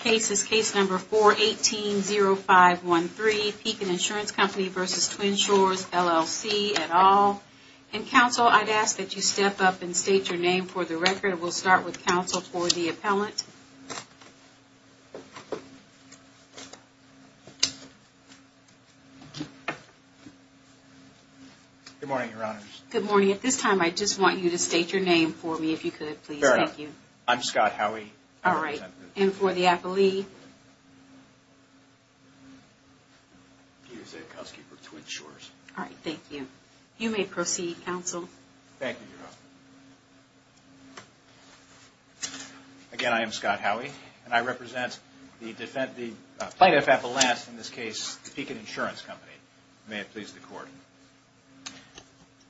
Case is Case No. 4-18-0513, Pekin Insurance Company v. Twin Shores, LLC, et al. And, Counsel, I'd ask that you step up and state your name for the record. We'll start with Counsel for the appellant. Good morning, Your Honors. Good morning. At this time, I just want you to state your name for me, if you could, please. I'm Scott Howey. All right. And for the appellee? All right. Thank you. You may proceed, Counsel. Thank you, Your Honor. Again, I am Scott Howey, and I represent the plaintiff at the last, in this case, the Pekin Insurance Company. May it please the Court.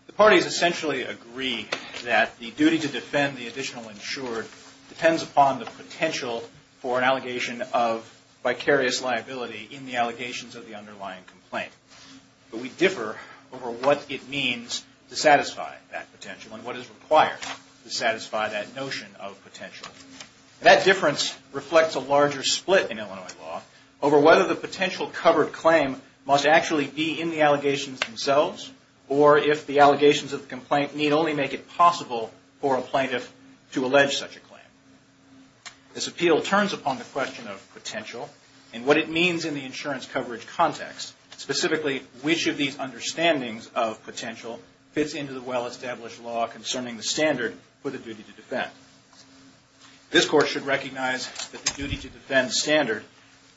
The parties essentially agree that the duty to defend the additional insured depends upon the potential for an allegation of vicarious liability in the allegations of the underlying complaint. But we differ over what it means to satisfy that potential and what is required to satisfy that notion of potential. And that difference reflects a larger split in Illinois law over whether the potential covered claim must actually be in the allegations themselves or if the allegations of the complaint need only make it possible for a plaintiff to allege such a claim. This appeal turns upon the question of potential and what it means in the insurance coverage context, which of these understandings of potential fits into the well-established law concerning the standard for the duty to defend. This Court should recognize that the duty to defend standard,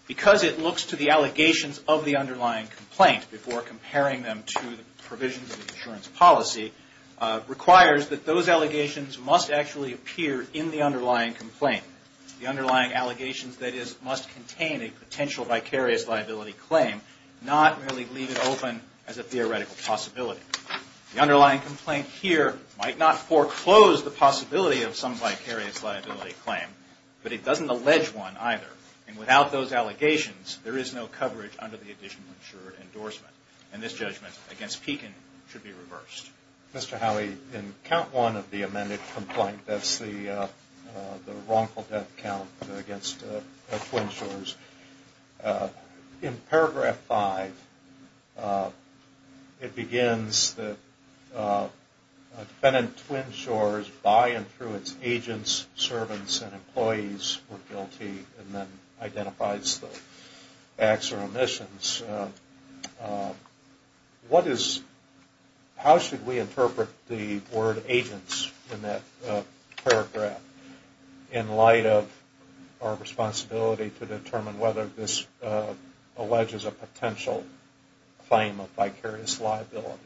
because it looks to the allegations of the underlying complaint before comparing them to the provisions of the insurance policy, requires that those allegations must actually appear in the underlying complaint. The underlying allegations, that is, must contain a potential vicarious liability claim, not merely leave it open as a theoretical possibility. The underlying complaint here might not foreclose the possibility of some vicarious liability claim, but it doesn't allege one either. And without those allegations, there is no coverage under the additional insured endorsement. And this judgment against Pekin should be reversed. Mr. Howey, in count one of the amended complaint, that's the wrongful death count against Twin Shores. In paragraph five, it begins that defendant Twin Shores by and through its agents, servants, and employees were guilty and then identifies the facts or omissions. How should we interpret the word agents in that paragraph in light of our responsibility to determine whether this alleges a potential claim of vicarious liability?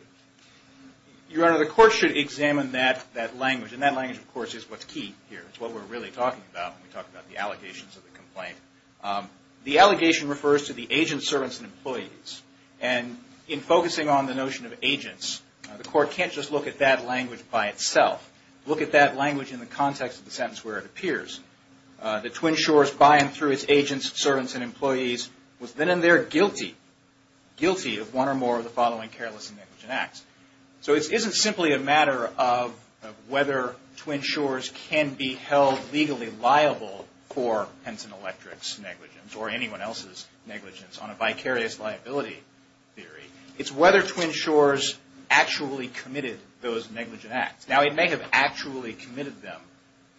Your Honor, the Court should examine that language. And that language, of course, is what's key here. It's what we're really talking about when we talk about the allegations of the complaint. The allegation refers to the agents, servants, and employees. And in focusing on the notion of agents, the Court can't just look at that language by itself. Look at that language in the context of the sentence where it appears. That Twin Shores by and through its agents, servants, and employees was then and there guilty, guilty of one or more of the following careless and negligent acts. So it isn't simply a matter of whether Twin Shores can be held legally liable for Henson Electric's negligence or anyone else's negligence on a vicarious liability theory. It's whether Twin Shores actually committed those negligent acts. Now, it may have actually committed them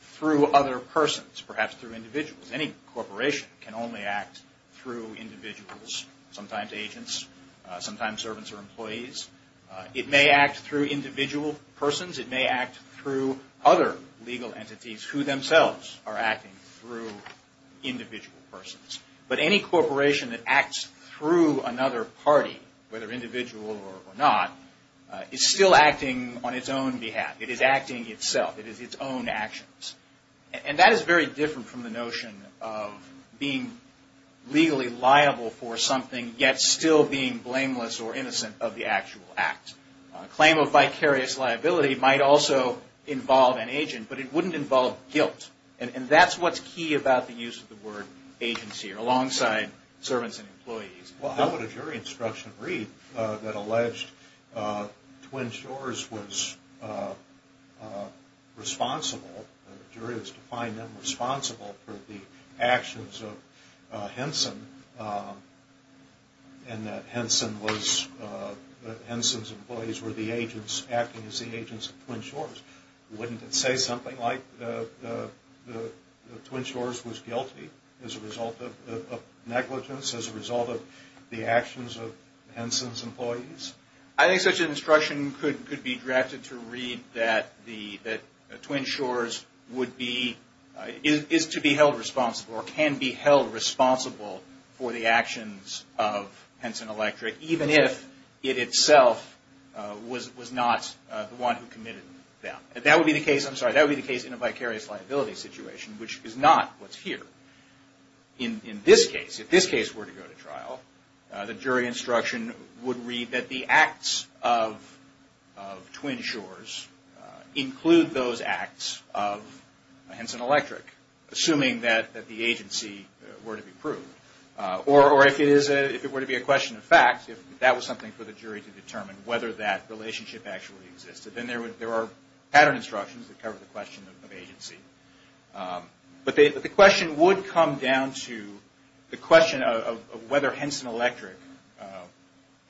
through other persons, perhaps through individuals. Any corporation can only act through individuals, sometimes agents, sometimes servants or employees. It may act through individual persons. It may act through other legal entities who themselves are acting through individual persons. But any corporation that acts through another party, whether individual or not, is still acting on its own behalf. It is acting itself. It is its own actions. And that is very different from the notion of being legally liable for something yet still being blameless or innocent of the actual act. A claim of vicarious liability might also involve an agent, but it wouldn't involve guilt. And that's what's key about the use of the word agency alongside servants and employees. Well, how would a jury instruction read that alleged Twin Shores was responsible? The jury was to find them responsible for the actions of Henson and that Henson's employees were the agents acting as the agents of Twin Shores. Wouldn't it say something like the Twin Shores was guilty as a result of negligence, as a result of the actions of Henson's employees? I think such an instruction could be drafted to read that the Twin Shores would be, is to be held responsible or can be held responsible for the actions of Henson Electric, even if it itself was not the one who committed them. That would be the case, I'm sorry, that would be the case in a vicarious liability situation, which is not what's here. In this case, if this case were to go to trial, the jury instruction would read that the acts of Twin Shores include those acts of Henson Electric. Assuming that the agency were to be proved. Or if it were to be a question of fact, if that was something for the jury to determine whether that relationship actually existed, then there are pattern instructions that cover the question of agency. But the question would come down to the question of whether Henson Electric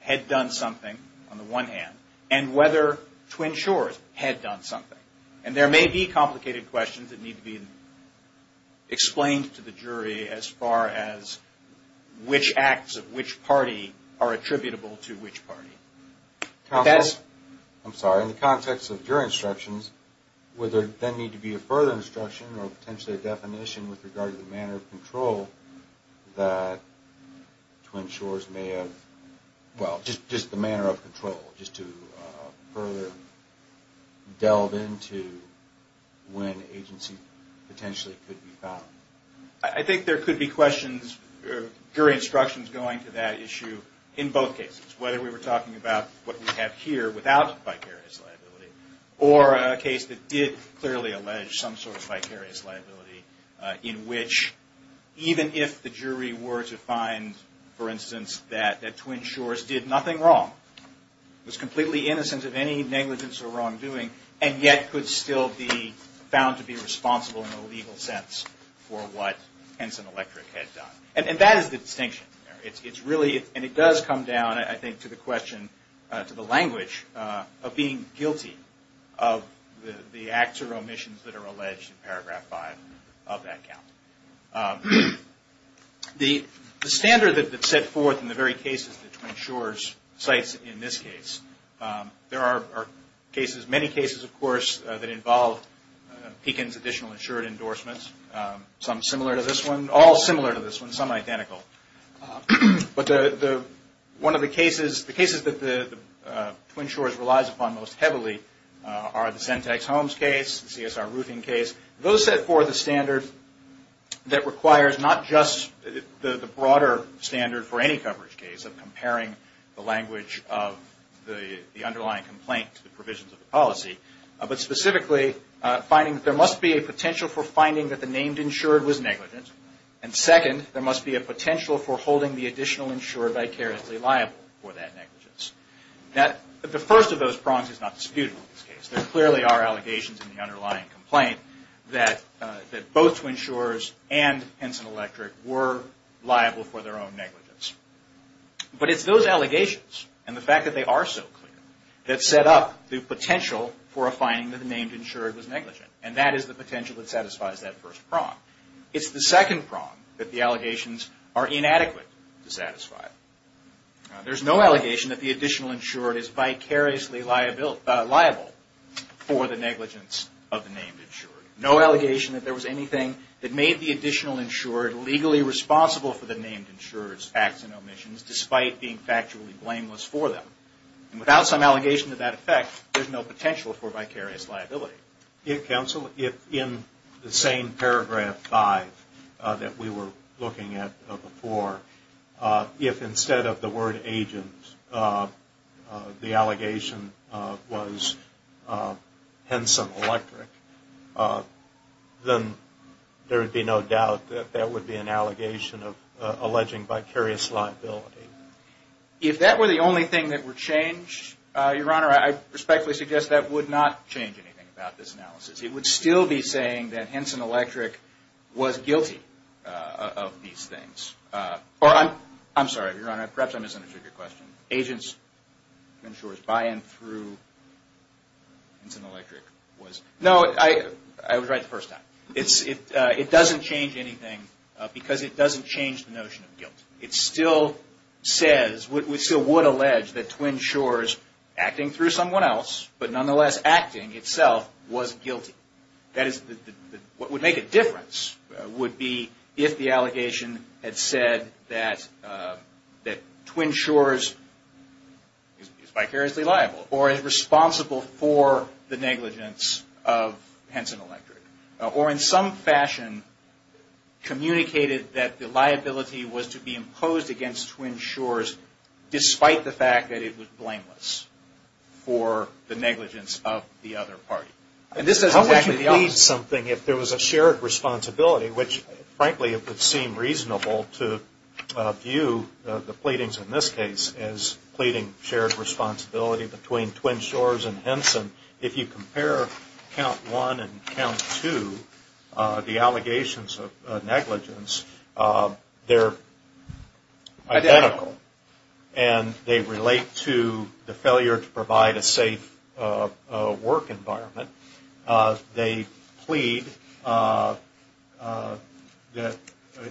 had done something on the one hand, and whether Twin Shores had done something. And there may be complicated questions that need to be explained to the jury as far as which acts of which party are attributable to which party. Counsel, I'm sorry, in the context of your instructions, would there then need to be a further instruction or potentially a definition with regard to the manner of control that Twin Shores may have, well, just the manner of control, just to further delve into when agency potentially could be found? I think there could be questions, jury instructions going to that issue in both cases. Whether we were talking about what we have here without vicarious liability, or a case that did clearly allege some sort of vicarious liability in which even if the jury were to find, for instance, that Twin Shores did nothing wrong, was completely innocent of any negligence or wrongdoing, and yet could still be found to be responsible in a legal sense for what Henson Electric had done. And that is the distinction there. It's really, and it does come down, I think, to the question, to the language of being guilty of the acts or omissions that are alleged in paragraph 5 of that count. The standard that's set forth in the very cases that Twin Shores cites in this case, there are cases, many cases, of course, that involve Pekin's additional insured endorsements, some similar to this one, all similar to this one, some identical. But one of the cases, the cases that the Twin Shores relies upon most heavily are the Sentex Homes case, the CSR Roofing case. Those set forth a standard that requires not just the broader standard for any coverage case of comparing the language of the underlying complaint to the provisions of the policy, but specifically finding that there must be a potential for finding that the named insured was negligent, and second, there must be a potential for holding the additional insured vicariously liable for that negligence. The first of those prongs is not disputable in this case. There clearly are allegations in the underlying complaint that both Twin Shores and Henson Electric were liable for their own negligence. But it's those allegations and the fact that they are so clear that set up the potential for a finding that the named insured was negligent, and that is the potential that satisfies that first prong. It's the second prong that the allegations are inadequate to satisfy. There's no allegation that the additional insured is vicariously liable for the negligence of the named insured. No allegation that there was anything that made the additional insured legally responsible for the named insured's facts and omissions, despite being factually blameless for them. And without some allegation to that effect, there's no potential for vicarious liability. If, Counsel, if in the same paragraph 5 that we were looking at before, if instead of the word agent the allegation was Henson Electric, then there would be no doubt that that would be an allegation of alleging vicarious liability. If that were the only thing that were changed, Your Honor, I respectfully suggest that would not change anything about this analysis. It would still be saying that Henson Electric was guilty of these things. Or I'm sorry, Your Honor, perhaps I misunderstood your question. Agents insured by and through Henson Electric was. No, I was right the first time. It doesn't change anything because it doesn't change the notion of guilt. It still says, we still would allege that Twin Shores acting through someone else, but nonetheless acting itself, was guilty. That is, what would make a difference would be if the allegation had said that Twin Shores is vicariously liable or is responsible for the negligence of Henson Electric. Or in some fashion communicated that the liability was to be imposed against Twin Shores, despite the fact that it was blameless for the negligence of the other party. And this is exactly the opposite. How would you plead something if there was a shared responsibility, which frankly it would seem reasonable to view the pleadings in this case And if you compare count one and count two, the allegations of negligence, they're identical. And they relate to the failure to provide a safe work environment. They plead that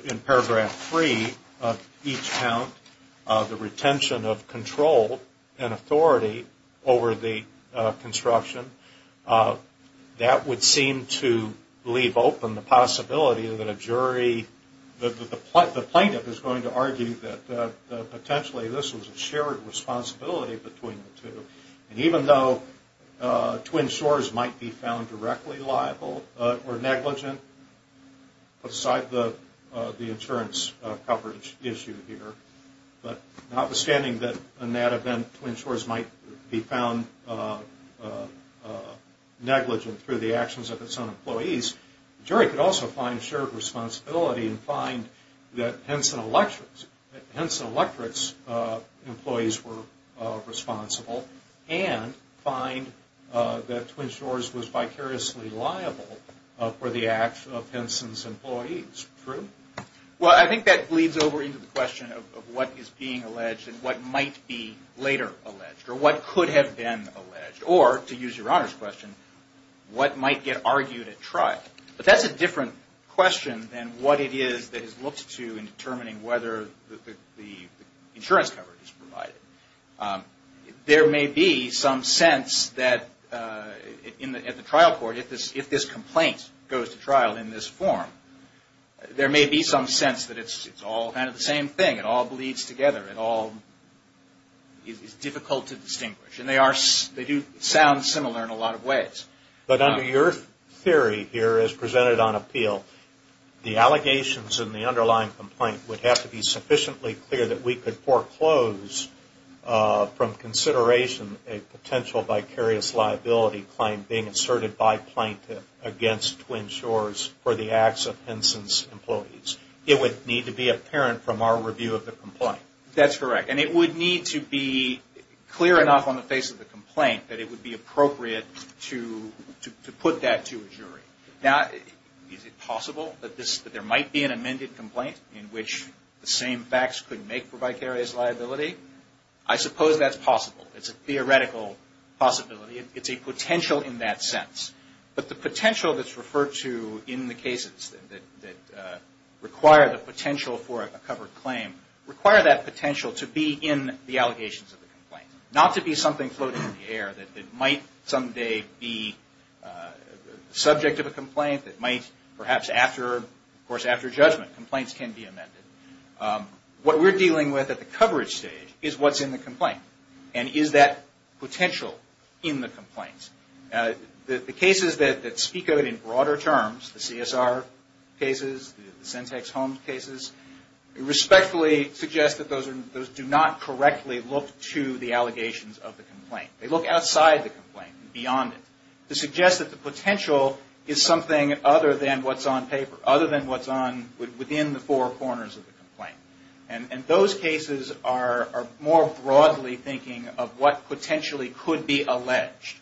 in paragraph three of each count, the retention of control and authority over the construction. That would seem to leave open the possibility that a jury, the plaintiff is going to argue that potentially this was a shared responsibility between the two. And even though Twin Shores might be found directly liable or negligent, aside the insurance coverage issue here, but notwithstanding that in that event Twin Shores might be found negligent through the actions of its own employees, the jury could also find a shared responsibility and find that Henson Electric's employees were responsible and find that Twin Shores was vicariously liable for the actions of Henson's employees. True? Well I think that leads over into the question of what is being alleged and what might be later alleged. Or what could have been alleged. Or, to use Your Honor's question, what might get argued at trial. But that's a different question than what it is that is looked to in determining whether the insurance coverage is provided. There may be some sense that at the trial court, if this complaint goes to trial in this form, there may be some sense that it's all kind of the same thing. It all bleeds together. It all is difficult to distinguish. And they do sound similar in a lot of ways. But under your theory here as presented on appeal, the allegations in the underlying complaint would have to be sufficiently clear that we could foreclose from consideration a potential vicarious liability claim being asserted by plaintiff against Twin Shores for the acts of Henson's employees. It would need to be apparent from our review of the complaint. That's correct. And it would need to be clear enough on the face of the complaint that it would be appropriate to put that to a jury. Now, is it possible that there might be an amended complaint in which the same facts could make for vicarious liability? I suppose that's possible. It's a theoretical possibility. It's a potential in that sense. But the potential that's referred to in the cases that require the potential for a covered claim, require that potential to be in the allegations of the complaint. Not to be something floating in the air that might someday be subject of a complaint, that might perhaps after judgment, complaints can be amended. What we're dealing with at the coverage stage is what's in the complaint. And is that potential in the complaint? The cases that speak of it in broader terms, the CSR cases, the Centex Holmes cases, respectfully suggest that those do not correctly look to the allegations of the complaint. They look outside the complaint, beyond it, to suggest that the potential is something other than what's on paper, other than what's within the four corners of the complaint. And those cases are more broadly thinking of what potentially could be alleged.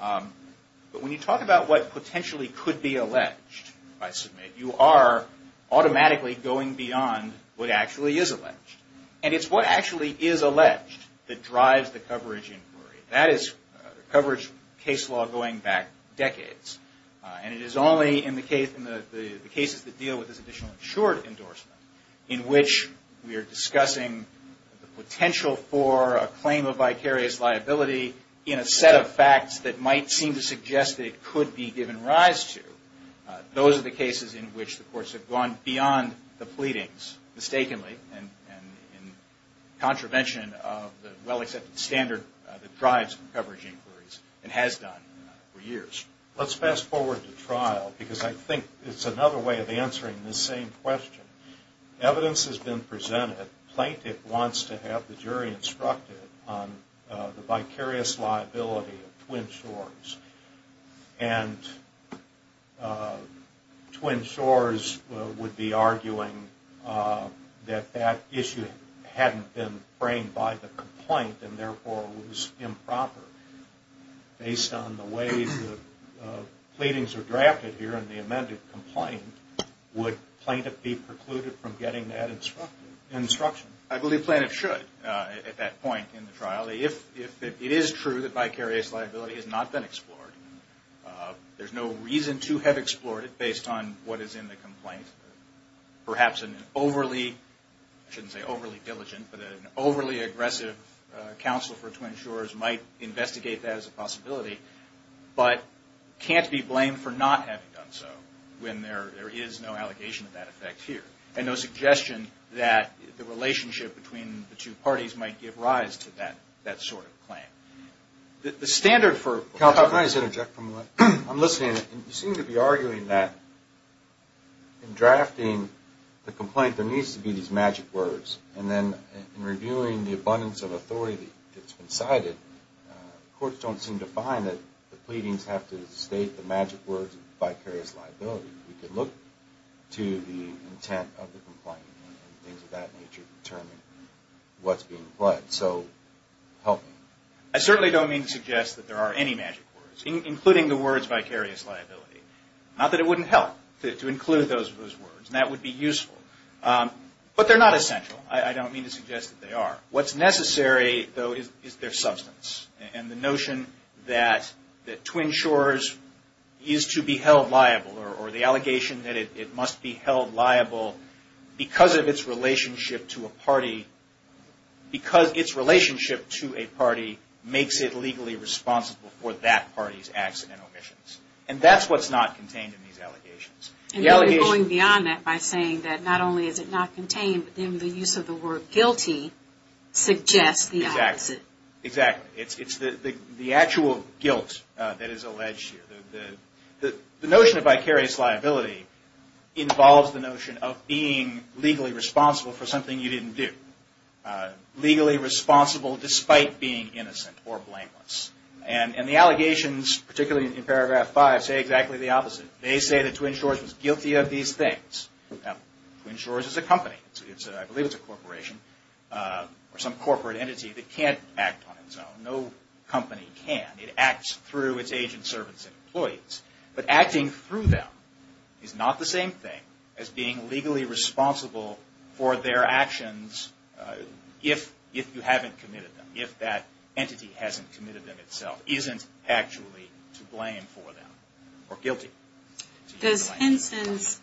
But when you talk about what potentially could be alleged, I submit, you are automatically going beyond what actually is alleged. And it's what actually is alleged that drives the coverage inquiry. That is coverage case law going back decades. And it is only in the cases that deal with this additional insured endorsement, in which we are discussing the potential for a claim of vicarious liability, in a set of facts that might seem to suggest that it could be given rise to, those are the cases in which the courts have gone beyond the pleadings, and in contravention of the well-accepted standard that drives coverage inquiries, and has done for years. Let's fast forward to trial, because I think it's another way of answering this same question. Evidence has been presented. Plaintiff wants to have the jury instructed on the vicarious liability of Twin Shores. And Twin Shores would be arguing that that issue hadn't been framed by the complaint, and therefore was improper, based on the way the pleadings are drafted here, and the amended complaint. Would plaintiff be precluded from getting that instruction? I believe plaintiff should at that point in the trial. Obviously, if it is true that vicarious liability has not been explored, there's no reason to have explored it, based on what is in the complaint. Perhaps an overly, I shouldn't say overly diligent, but an overly aggressive counsel for Twin Shores might investigate that as a possibility, but can't be blamed for not having done so, when there is no allegation of that effect here. And no suggestion that the relationship between the two parties might give rise to that sort of claim. The standard for... I'm listening, and you seem to be arguing that in drafting the complaint, there needs to be these magic words, and then in reviewing the abundance of authority that's been cited, courts don't seem to find that the pleadings have to state the magic words of vicarious liability. We could look to the intent of the complaint, and things of that nature to determine what's being implied. So, help me. I certainly don't mean to suggest that there are any magic words, including the words vicarious liability. Not that it wouldn't help to include those words, and that would be useful. But they're not essential. I don't mean to suggest that they are. What's necessary, though, is their substance, and the notion that Twin Shores is to be held liable, or the allegation that it must be held liable because of its relationship to a party, because its relationship to a party makes it legally responsible for that party's accident omissions. And that's what's not contained in these allegations. And you're going beyond that by saying that not only is it not contained, but then the use of the word guilty suggests the opposite. Exactly. It's the actual guilt that is alleged here. The notion of vicarious liability involves the notion of being legally responsible for something you didn't do. Legally responsible despite being innocent or blameless. And the allegations, particularly in paragraph 5, say exactly the opposite. They say that Twin Shores was guilty of these things. Now, Twin Shores is a company. I believe it's a corporation, or some corporate entity that can't act on its own. No company can. It acts through its agents, servants, and employees. But acting through them is not the same thing as being legally responsible for their actions if you haven't committed them, if that entity hasn't committed them itself, isn't actually to blame for them, or guilty. Does Henson's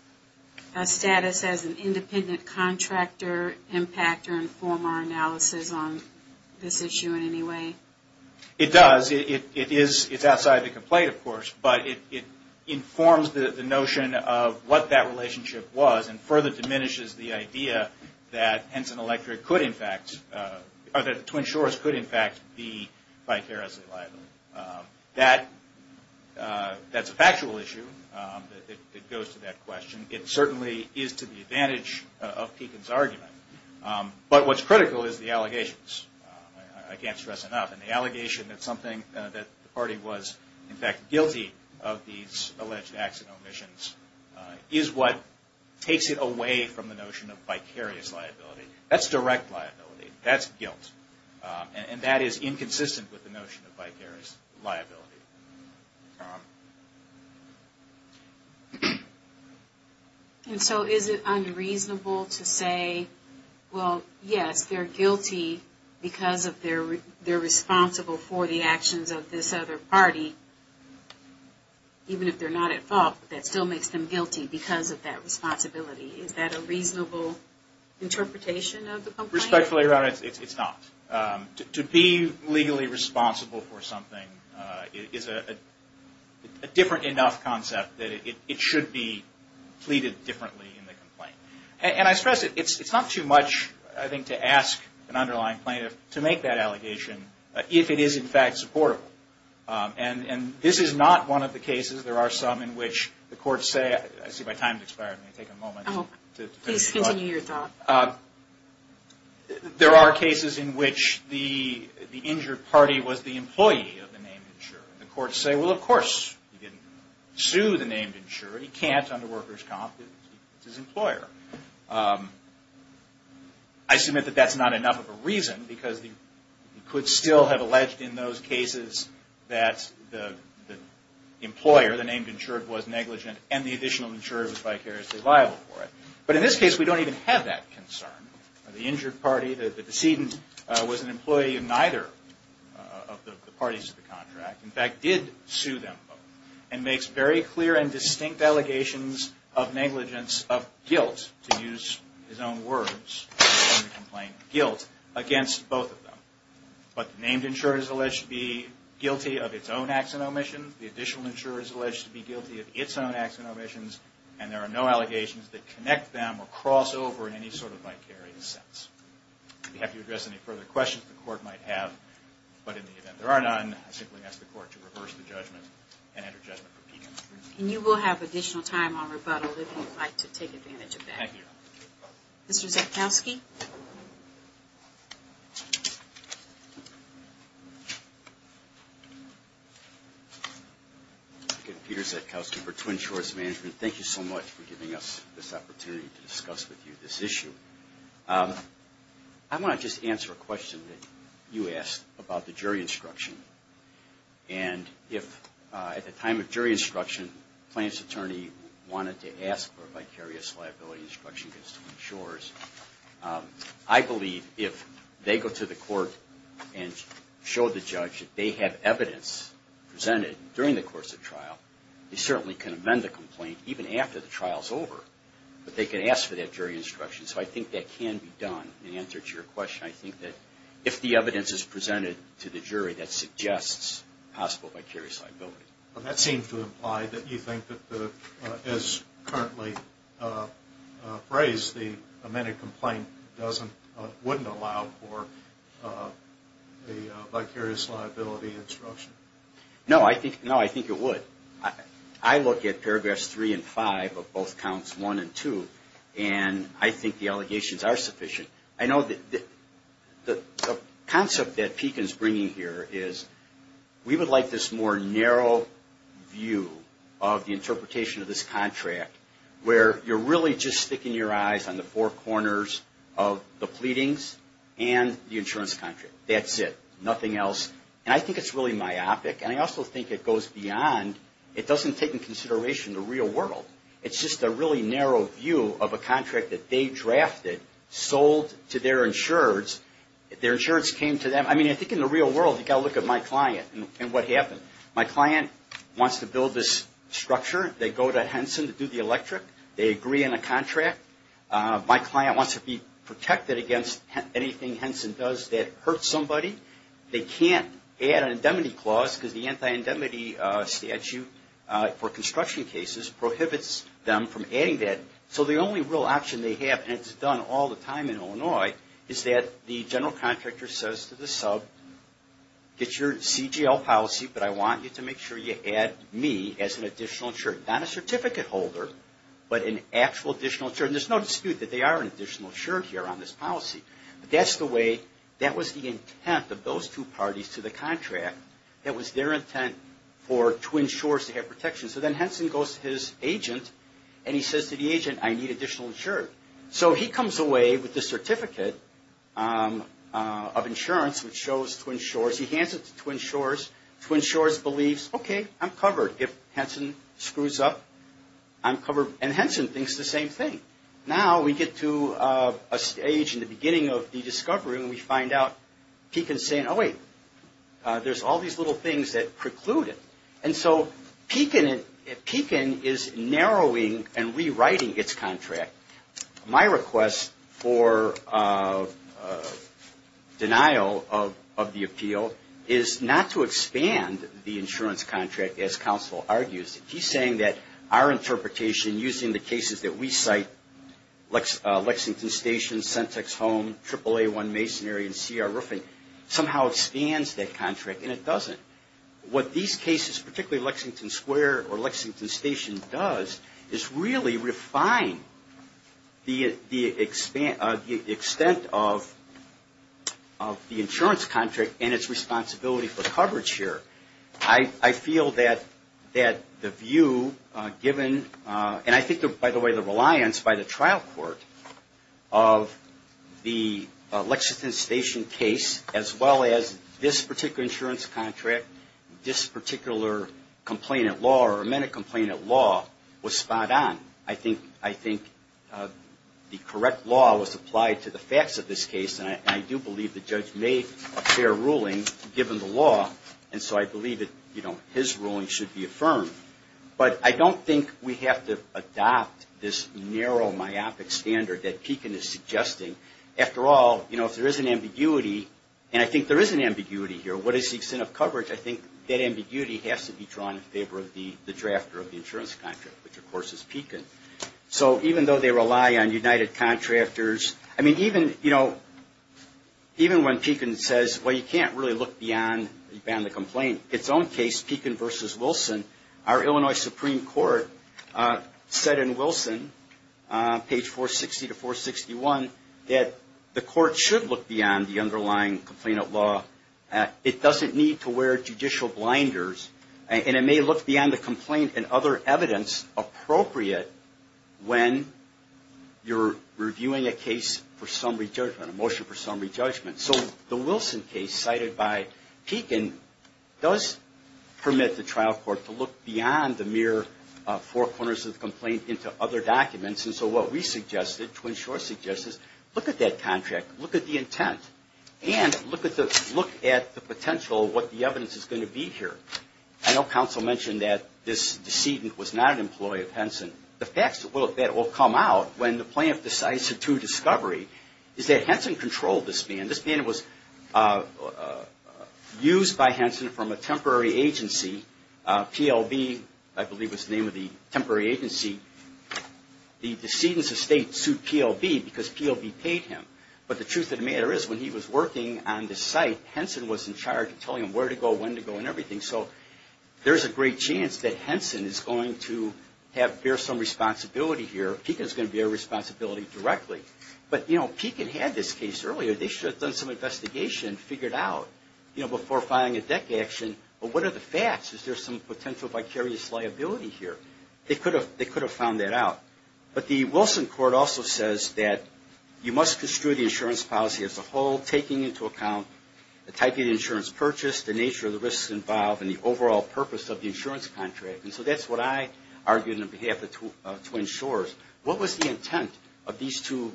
status as an independent contractor impact or inform our analysis on this issue in any way? It does. It's outside the complaint, of course, but it informs the notion of what that relationship was and further diminishes the idea that the Twin Shores could in fact be vicariously liable. That's a factual issue that goes to that question. It certainly is to the advantage of Pekin's argument. But what's critical is the allegations. I can't stress enough. And the allegation that the party was in fact guilty of these alleged acts and omissions is what takes it away from the notion of vicarious liability. That's direct liability. That's guilt. And that is inconsistent with the notion of vicarious liability. And so is it unreasonable to say, well, yes, they're guilty because they're responsible for the actions of this other party, even if they're not at fault, but that still makes them guilty because of that responsibility. Is that a reasonable interpretation of the complaint? Disrespectfully, Your Honor, it's not. To be legally responsible for something is a different enough concept that it should be pleaded differently in the complaint. And I stress it. It's not too much, I think, to ask an underlying plaintiff to make that allegation if it is in fact supportable. And this is not one of the cases. There are some in which the courts say – I see my time has expired. Please continue your thought. There are cases in which the injured party was the employee of the named insurer. The courts say, well, of course he didn't sue the named insurer. He can't under workers' comp. It's his employer. I submit that that's not enough of a reason because he could still have alleged in those cases that the employer, the named insurer, was negligent and the additional insurer was vicariously liable for it. But in this case, we don't even have that concern. The injured party, the decedent, was an employee of neither of the parties to the contract, in fact did sue them both, and makes very clear and distinct allegations of negligence, of guilt, to use his own words in the complaint, guilt, against both of them. But the named insurer is alleged to be guilty of its own acts of omission. The additional insurer is alleged to be guilty of its own acts of omissions, and there are no allegations that connect them or cross over in any sort of vicarious sense. If you have to address any further questions the court might have, but in the event there are none, I simply ask the court to reverse the judgment and enter judgment for Pekin. And you will have additional time on rebuttal if you'd like to take advantage of that. Thank you. Mr. Zetkowski? Peter Zetkowski for Twin Shores Management. Thank you so much for giving us this opportunity to discuss with you this issue. I want to just answer a question that you asked about the jury instruction. And if at the time of jury instruction, the plaintiff's attorney wanted to ask for a vicarious liability instruction against Twin Shores, I believe if they go to the court and show the judge that they have evidence presented during the course of trial, they certainly can amend the complaint even after the trial is over, but they can ask for that jury instruction. So I think that can be done. In answer to your question, I think that if the evidence is presented to the jury, that suggests possible vicarious liability. That seems to imply that you think that as currently phrased, the amended complaint wouldn't allow for a vicarious liability instruction. No, I think it would. I look at paragraphs 3 and 5 of both counts 1 and 2, and I think the allegations are sufficient. I know the concept that Pekin's bringing here is we would like this more narrow view of the interpretation of this contract, where you're really just sticking your eyes on the four corners of the pleadings and the insurance contract. That's it. Nothing else. And I think it's really myopic, and I also think it goes beyond, it doesn't take into consideration the real world. It's just a really narrow view of a contract that they drafted, sold to their insurers. Their insurance came to them. I mean, I think in the real world, you've got to look at my client and what happened. My client wants to build this structure. They go to Henson to do the electric. They agree on a contract. My client wants to be protected against anything Henson does that hurts somebody. They can't add an indemnity clause because the anti-indemnity statute for construction cases prohibits them from adding that. So the only real option they have, and it's done all the time in Illinois, is that the general contractor says to the sub, get your CGL policy, but I want you to make sure you add me as an additional insurer. Not a certificate holder, but an actual additional insurer. There's no dispute that they are an additional insurer here on this policy. But that's the way, that was the intent of those two parties to the contract. That was their intent for Twin Shores to have protection. So then Henson goes to his agent, and he says to the agent, I need additional insurer. So he comes away with the certificate of insurance, which shows Twin Shores. He hands it to Twin Shores. Twin Shores believes, okay, I'm covered. If Henson screws up, I'm covered. And Henson thinks the same thing. Now we get to a stage in the beginning of the discovery, and we find out Pekin's saying, oh, wait, there's all these little things that preclude it. And so Pekin is narrowing and rewriting its contract. My request for denial of the appeal is not to expand the insurance contract, as counsel argues. He's saying that our interpretation using the cases that we cite, Lexington Station, Centex Home, AAA1 Masonry, and CR Roofing, somehow expands that contract, and it doesn't. What these cases, particularly Lexington Square or Lexington Station does, is really refine the extent of the insurance contract and its responsibility for coverage here. I feel that the view given, and I think, by the way, the reliance by the trial court of the Lexington Station case, as well as this particular insurance contract, this particular complainant law or amended complainant law, was spot on. I think the correct law was applied to the facts of this case, and I do believe the judge made a fair ruling given the law. And so I believe that, you know, his ruling should be affirmed. But I don't think we have to adopt this narrow, myopic standard that Pekin is suggesting. After all, you know, if there is an ambiguity, and I think there is an ambiguity here, what is the extent of coverage? I think that ambiguity has to be drawn in favor of the drafter of the insurance contract, which, of course, is Pekin. So even though they rely on united contractors, I mean, even, you know, even when Pekin says, well, you can't really look beyond the complaint. Its own case, Pekin v. Wilson, our Illinois Supreme Court said in Wilson, page 460 to 461, that the court should look beyond the underlying complainant law. It doesn't need to wear judicial blinders, and it may look beyond the complaint and other evidence appropriate when you're reviewing a case for summary judgment, a motion for summary judgment. So the Wilson case cited by Pekin does permit the trial court to look beyond the mere four corners of the complaint into other documents. And so what we suggested, Twin Shores suggested, is look at that contract, look at the intent, and look at the potential of what the evidence is going to be here. I know counsel mentioned that this decedent was not an employee of Henson. And the facts that will come out when the plaintiff decides to do discovery is that Henson controlled this man. This man was used by Henson from a temporary agency, PLB, I believe was the name of the temporary agency. The decedent's estate sued PLB because PLB paid him. But the truth of the matter is, when he was working on this site, Henson was in charge of telling him where to go, when to go, and everything. So there's a great chance that Henson is going to bear some responsibility here. Pekin's going to bear responsibility directly. But, you know, Pekin had this case earlier. They should have done some investigation, figured out, you know, before filing a deck action. But what are the facts? Is there some potential vicarious liability here? They could have found that out. But the Wilson court also says that you must construe the insurance policy as a whole, taking into account the type of insurance purchased, the nature of the risks involved, and the overall purpose of the insurance contract. And so that's what I argued on behalf of Twin Shores. What was the intent of these two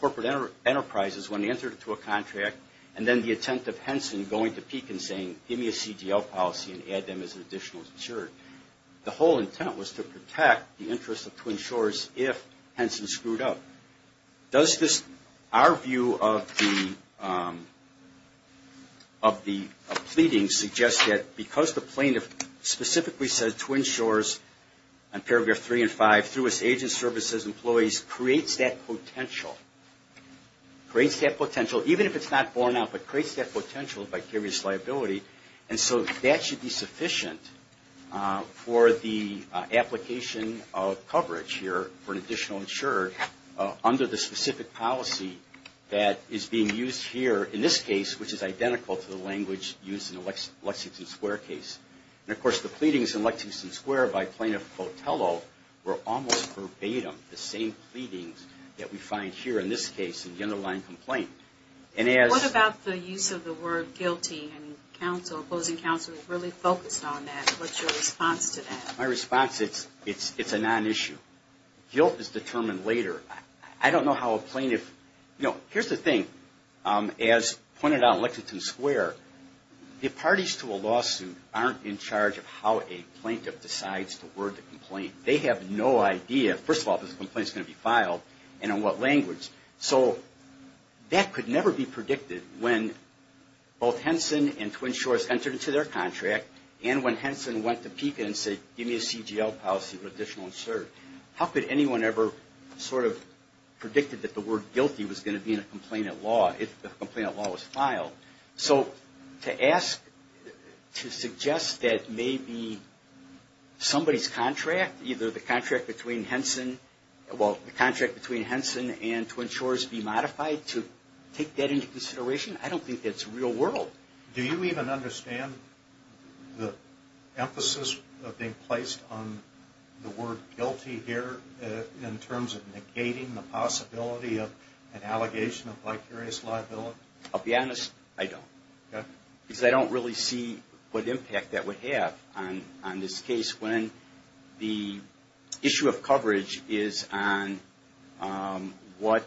corporate enterprises when they entered into a contract, and then the intent of Henson going to Pekin saying, give me a CDL policy and add them as an additional insurer? The whole intent was to protect the interests of Twin Shores if Henson screwed up. Does this, our view of the pleading suggests that because the plaintiff specifically says Twin Shores on paragraph 3 and 5, through its agent services employees, creates that potential. Creates that potential, even if it's not borne out, but creates that potential of vicarious liability. And so that should be sufficient for the application of coverage here for an additional insurer, under the specific policy that is being used here in this case, which is identical to the language used in the Lexington Square case. And of course the pleadings in Lexington Square by Plaintiff Cotello were almost verbatim, the same pleadings that we find here in this case in the underlying complaint. What about the use of the word guilty and opposing counsel really focused on that? What's your response to that? My response is it's a non-issue. Guilt is determined later. I don't know how a plaintiff, you know, here's the thing. As pointed out in Lexington Square, the parties to a lawsuit aren't in charge of how a plaintiff decides to word the complaint. They have no idea, first of all, if this complaint is going to be filed and in what language. So that could never be predicted when both Henson and Twin Shores entered into their contract and when Henson went to PICA and said, give me a CGL policy for additional insurer. How could anyone ever sort of predict that the word guilty was going to be in a complainant law if the complainant law was filed? So to ask, to suggest that maybe somebody's contract, either the contract between Henson, and Twin Shores be modified to take that into consideration, I don't think that's real world. Do you even understand the emphasis of being placed on the word guilty here in terms of negating the possibility of an allegation of vicarious liability? I'll be honest, I don't. Because I don't really see what impact that would have on this case when the issue of coverage is on what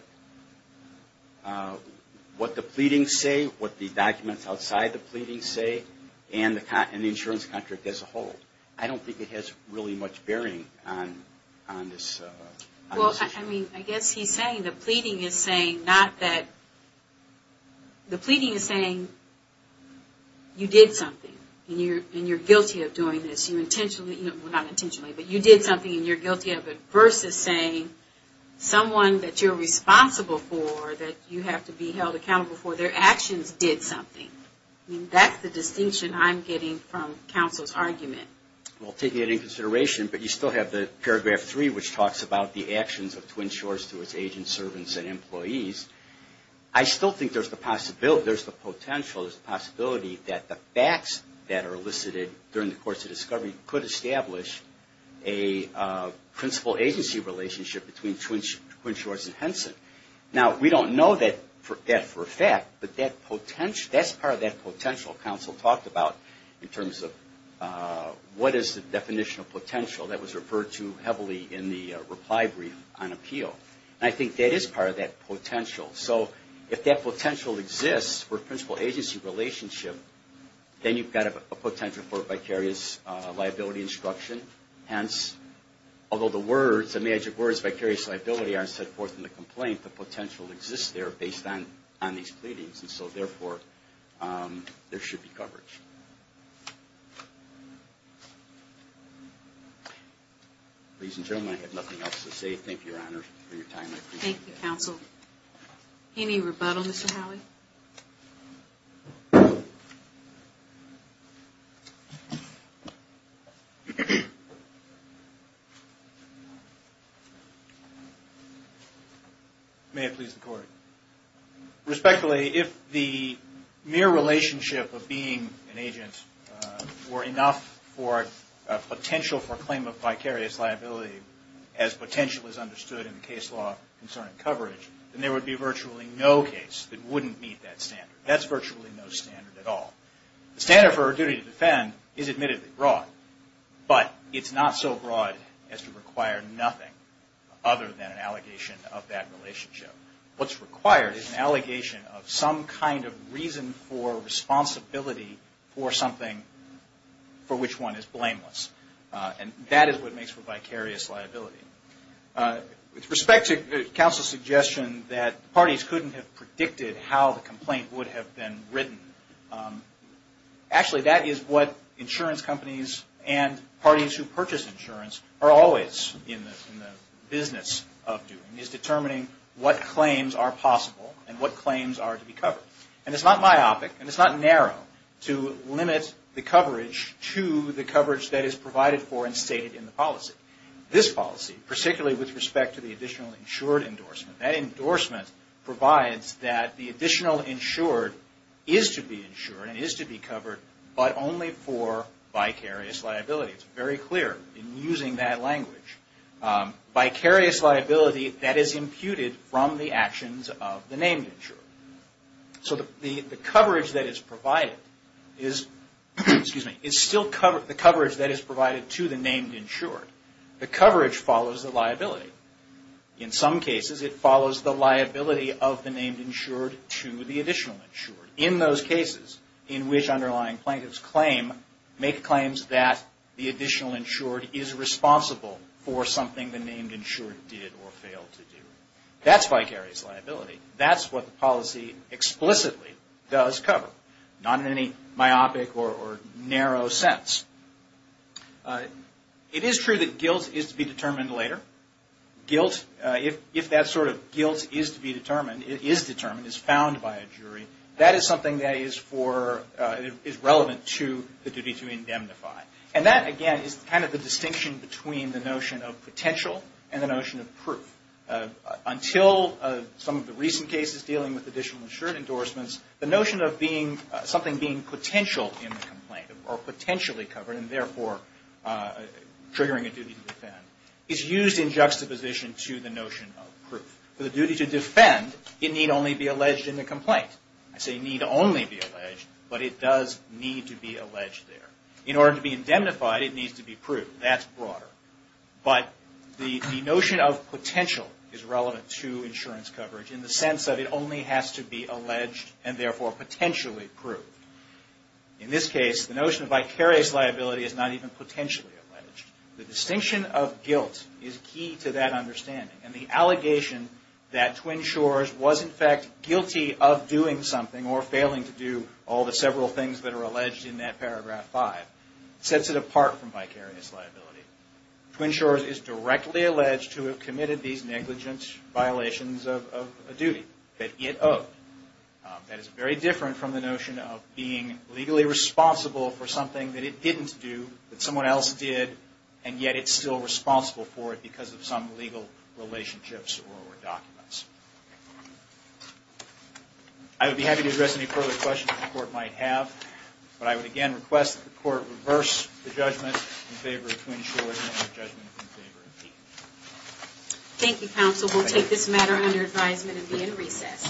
the pleadings say, what the documents outside the pleadings say, and the insurance contract as a whole. I don't think it has really much bearing on this. Well, I mean, I guess he's saying the pleading is saying not that, the pleading is saying you did something, and you're guilty of doing this, you intentionally, well not intentionally, but you did something and you're guilty of it, versus saying someone that you're responsible for, that you have to be held accountable for their actions did something. I mean, that's the distinction I'm getting from counsel's argument. Well, taking that into consideration, but you still have the paragraph three, which talks about the actions of Twin Shores to its agents, servants, and employees. I still think there's the potential, there's the possibility that the facts that are elicited during the course of discovery could establish a principal agency relationship between Twin Shores and Henson. Now, we don't know that for a fact, but that's part of that potential counsel talked about in terms of what is the definition of potential that was referred to heavily in the reply brief on appeal. And I think that is part of that potential. So if that potential exists for a principal agency relationship, then you've got a potential for a vicarious liability instruction. Hence, although the words, the magic words, vicarious liability aren't set forth in the complaint, the potential exists there based on these pleadings. And so, therefore, there should be coverage. Ladies and gentlemen, I have nothing else to say. Thank you, Your Honor, for your time. Thank you, counsel. Any rebuttal, Mr. Howey? May it please the Court. Respectfully, if the mere relationship of being an agent were enough for a potential for claim of vicarious liability as potential is understood in the case law concerning coverage, then there would be virtually no case that wouldn't meet that standard. That's virtually no standard at all. The standard for a duty to defend is admittedly broad, but it's not so broad as to require nothing other than an allegation of that relationship. What's required is an allegation of some kind of reason for responsibility for something for which one is blameless. And that is what makes for vicarious liability. With respect to counsel's suggestion that parties couldn't have predicted how the complaint would have been written, actually that is what insurance companies and parties who purchase insurance are always in the business of doing, is determining what claims are possible and what claims are to be covered. And it's not myopic and it's not narrow to limit the coverage to the coverage that is provided for and stated in the policy. This policy, particularly with respect to the additional insured endorsement, that endorsement provides that the additional insured is to be insured and is to be covered, but only for vicarious liability. It's very clear in using that language. Vicarious liability that is imputed from the actions of the named insured. So the coverage that is provided to the named insured, the coverage follows the liability. In some cases, it follows the liability of the named insured to the additional insured. In those cases in which underlying plaintiffs claim, make claims that the additional insured is responsible for something the named insured did or failed to do. That's vicarious liability. That's what the policy explicitly does cover. Not in any myopic or narrow sense. It is true that guilt is to be determined later. Guilt, if that sort of guilt is to be determined, is determined, is found by a jury, that is something that is for, is relevant to the duty to indemnify. And that, again, is kind of the distinction between the notion of potential and the notion of proof. Until some of the recent cases dealing with additional insured endorsements, the notion of being, something being potential in the complaint, or potentially covered, and therefore triggering a duty to defend, is used in juxtaposition to the notion of proof. For the duty to defend, it need only be alleged in the complaint. I say need only be alleged, but it does need to be alleged there. In order to be indemnified, it needs to be proved. That's broader. But the notion of potential is relevant to insurance coverage in the sense that it only has to be alleged and therefore potentially proved. In this case, the notion of vicarious liability is not even potentially alleged. The distinction of guilt is key to that understanding. And the allegation that Twin Shores was, in fact, guilty of doing something or failing to do all the several things that are alleged in that paragraph five, sets it apart from vicarious liability. Twin Shores is directly alleged to have committed these negligent violations of a duty that it owed. That is very different from the notion of being legally responsible for something that it didn't do, that someone else did, and yet it's still responsible for it because of some legal relationships or documents. I would be happy to address any further questions the Court might have, but I would again request that the Court reverse the judgment in favor of Twin Shores and the judgment in favor of Deacon. Thank you, counsel. We'll take this matter under advisement and be in recess.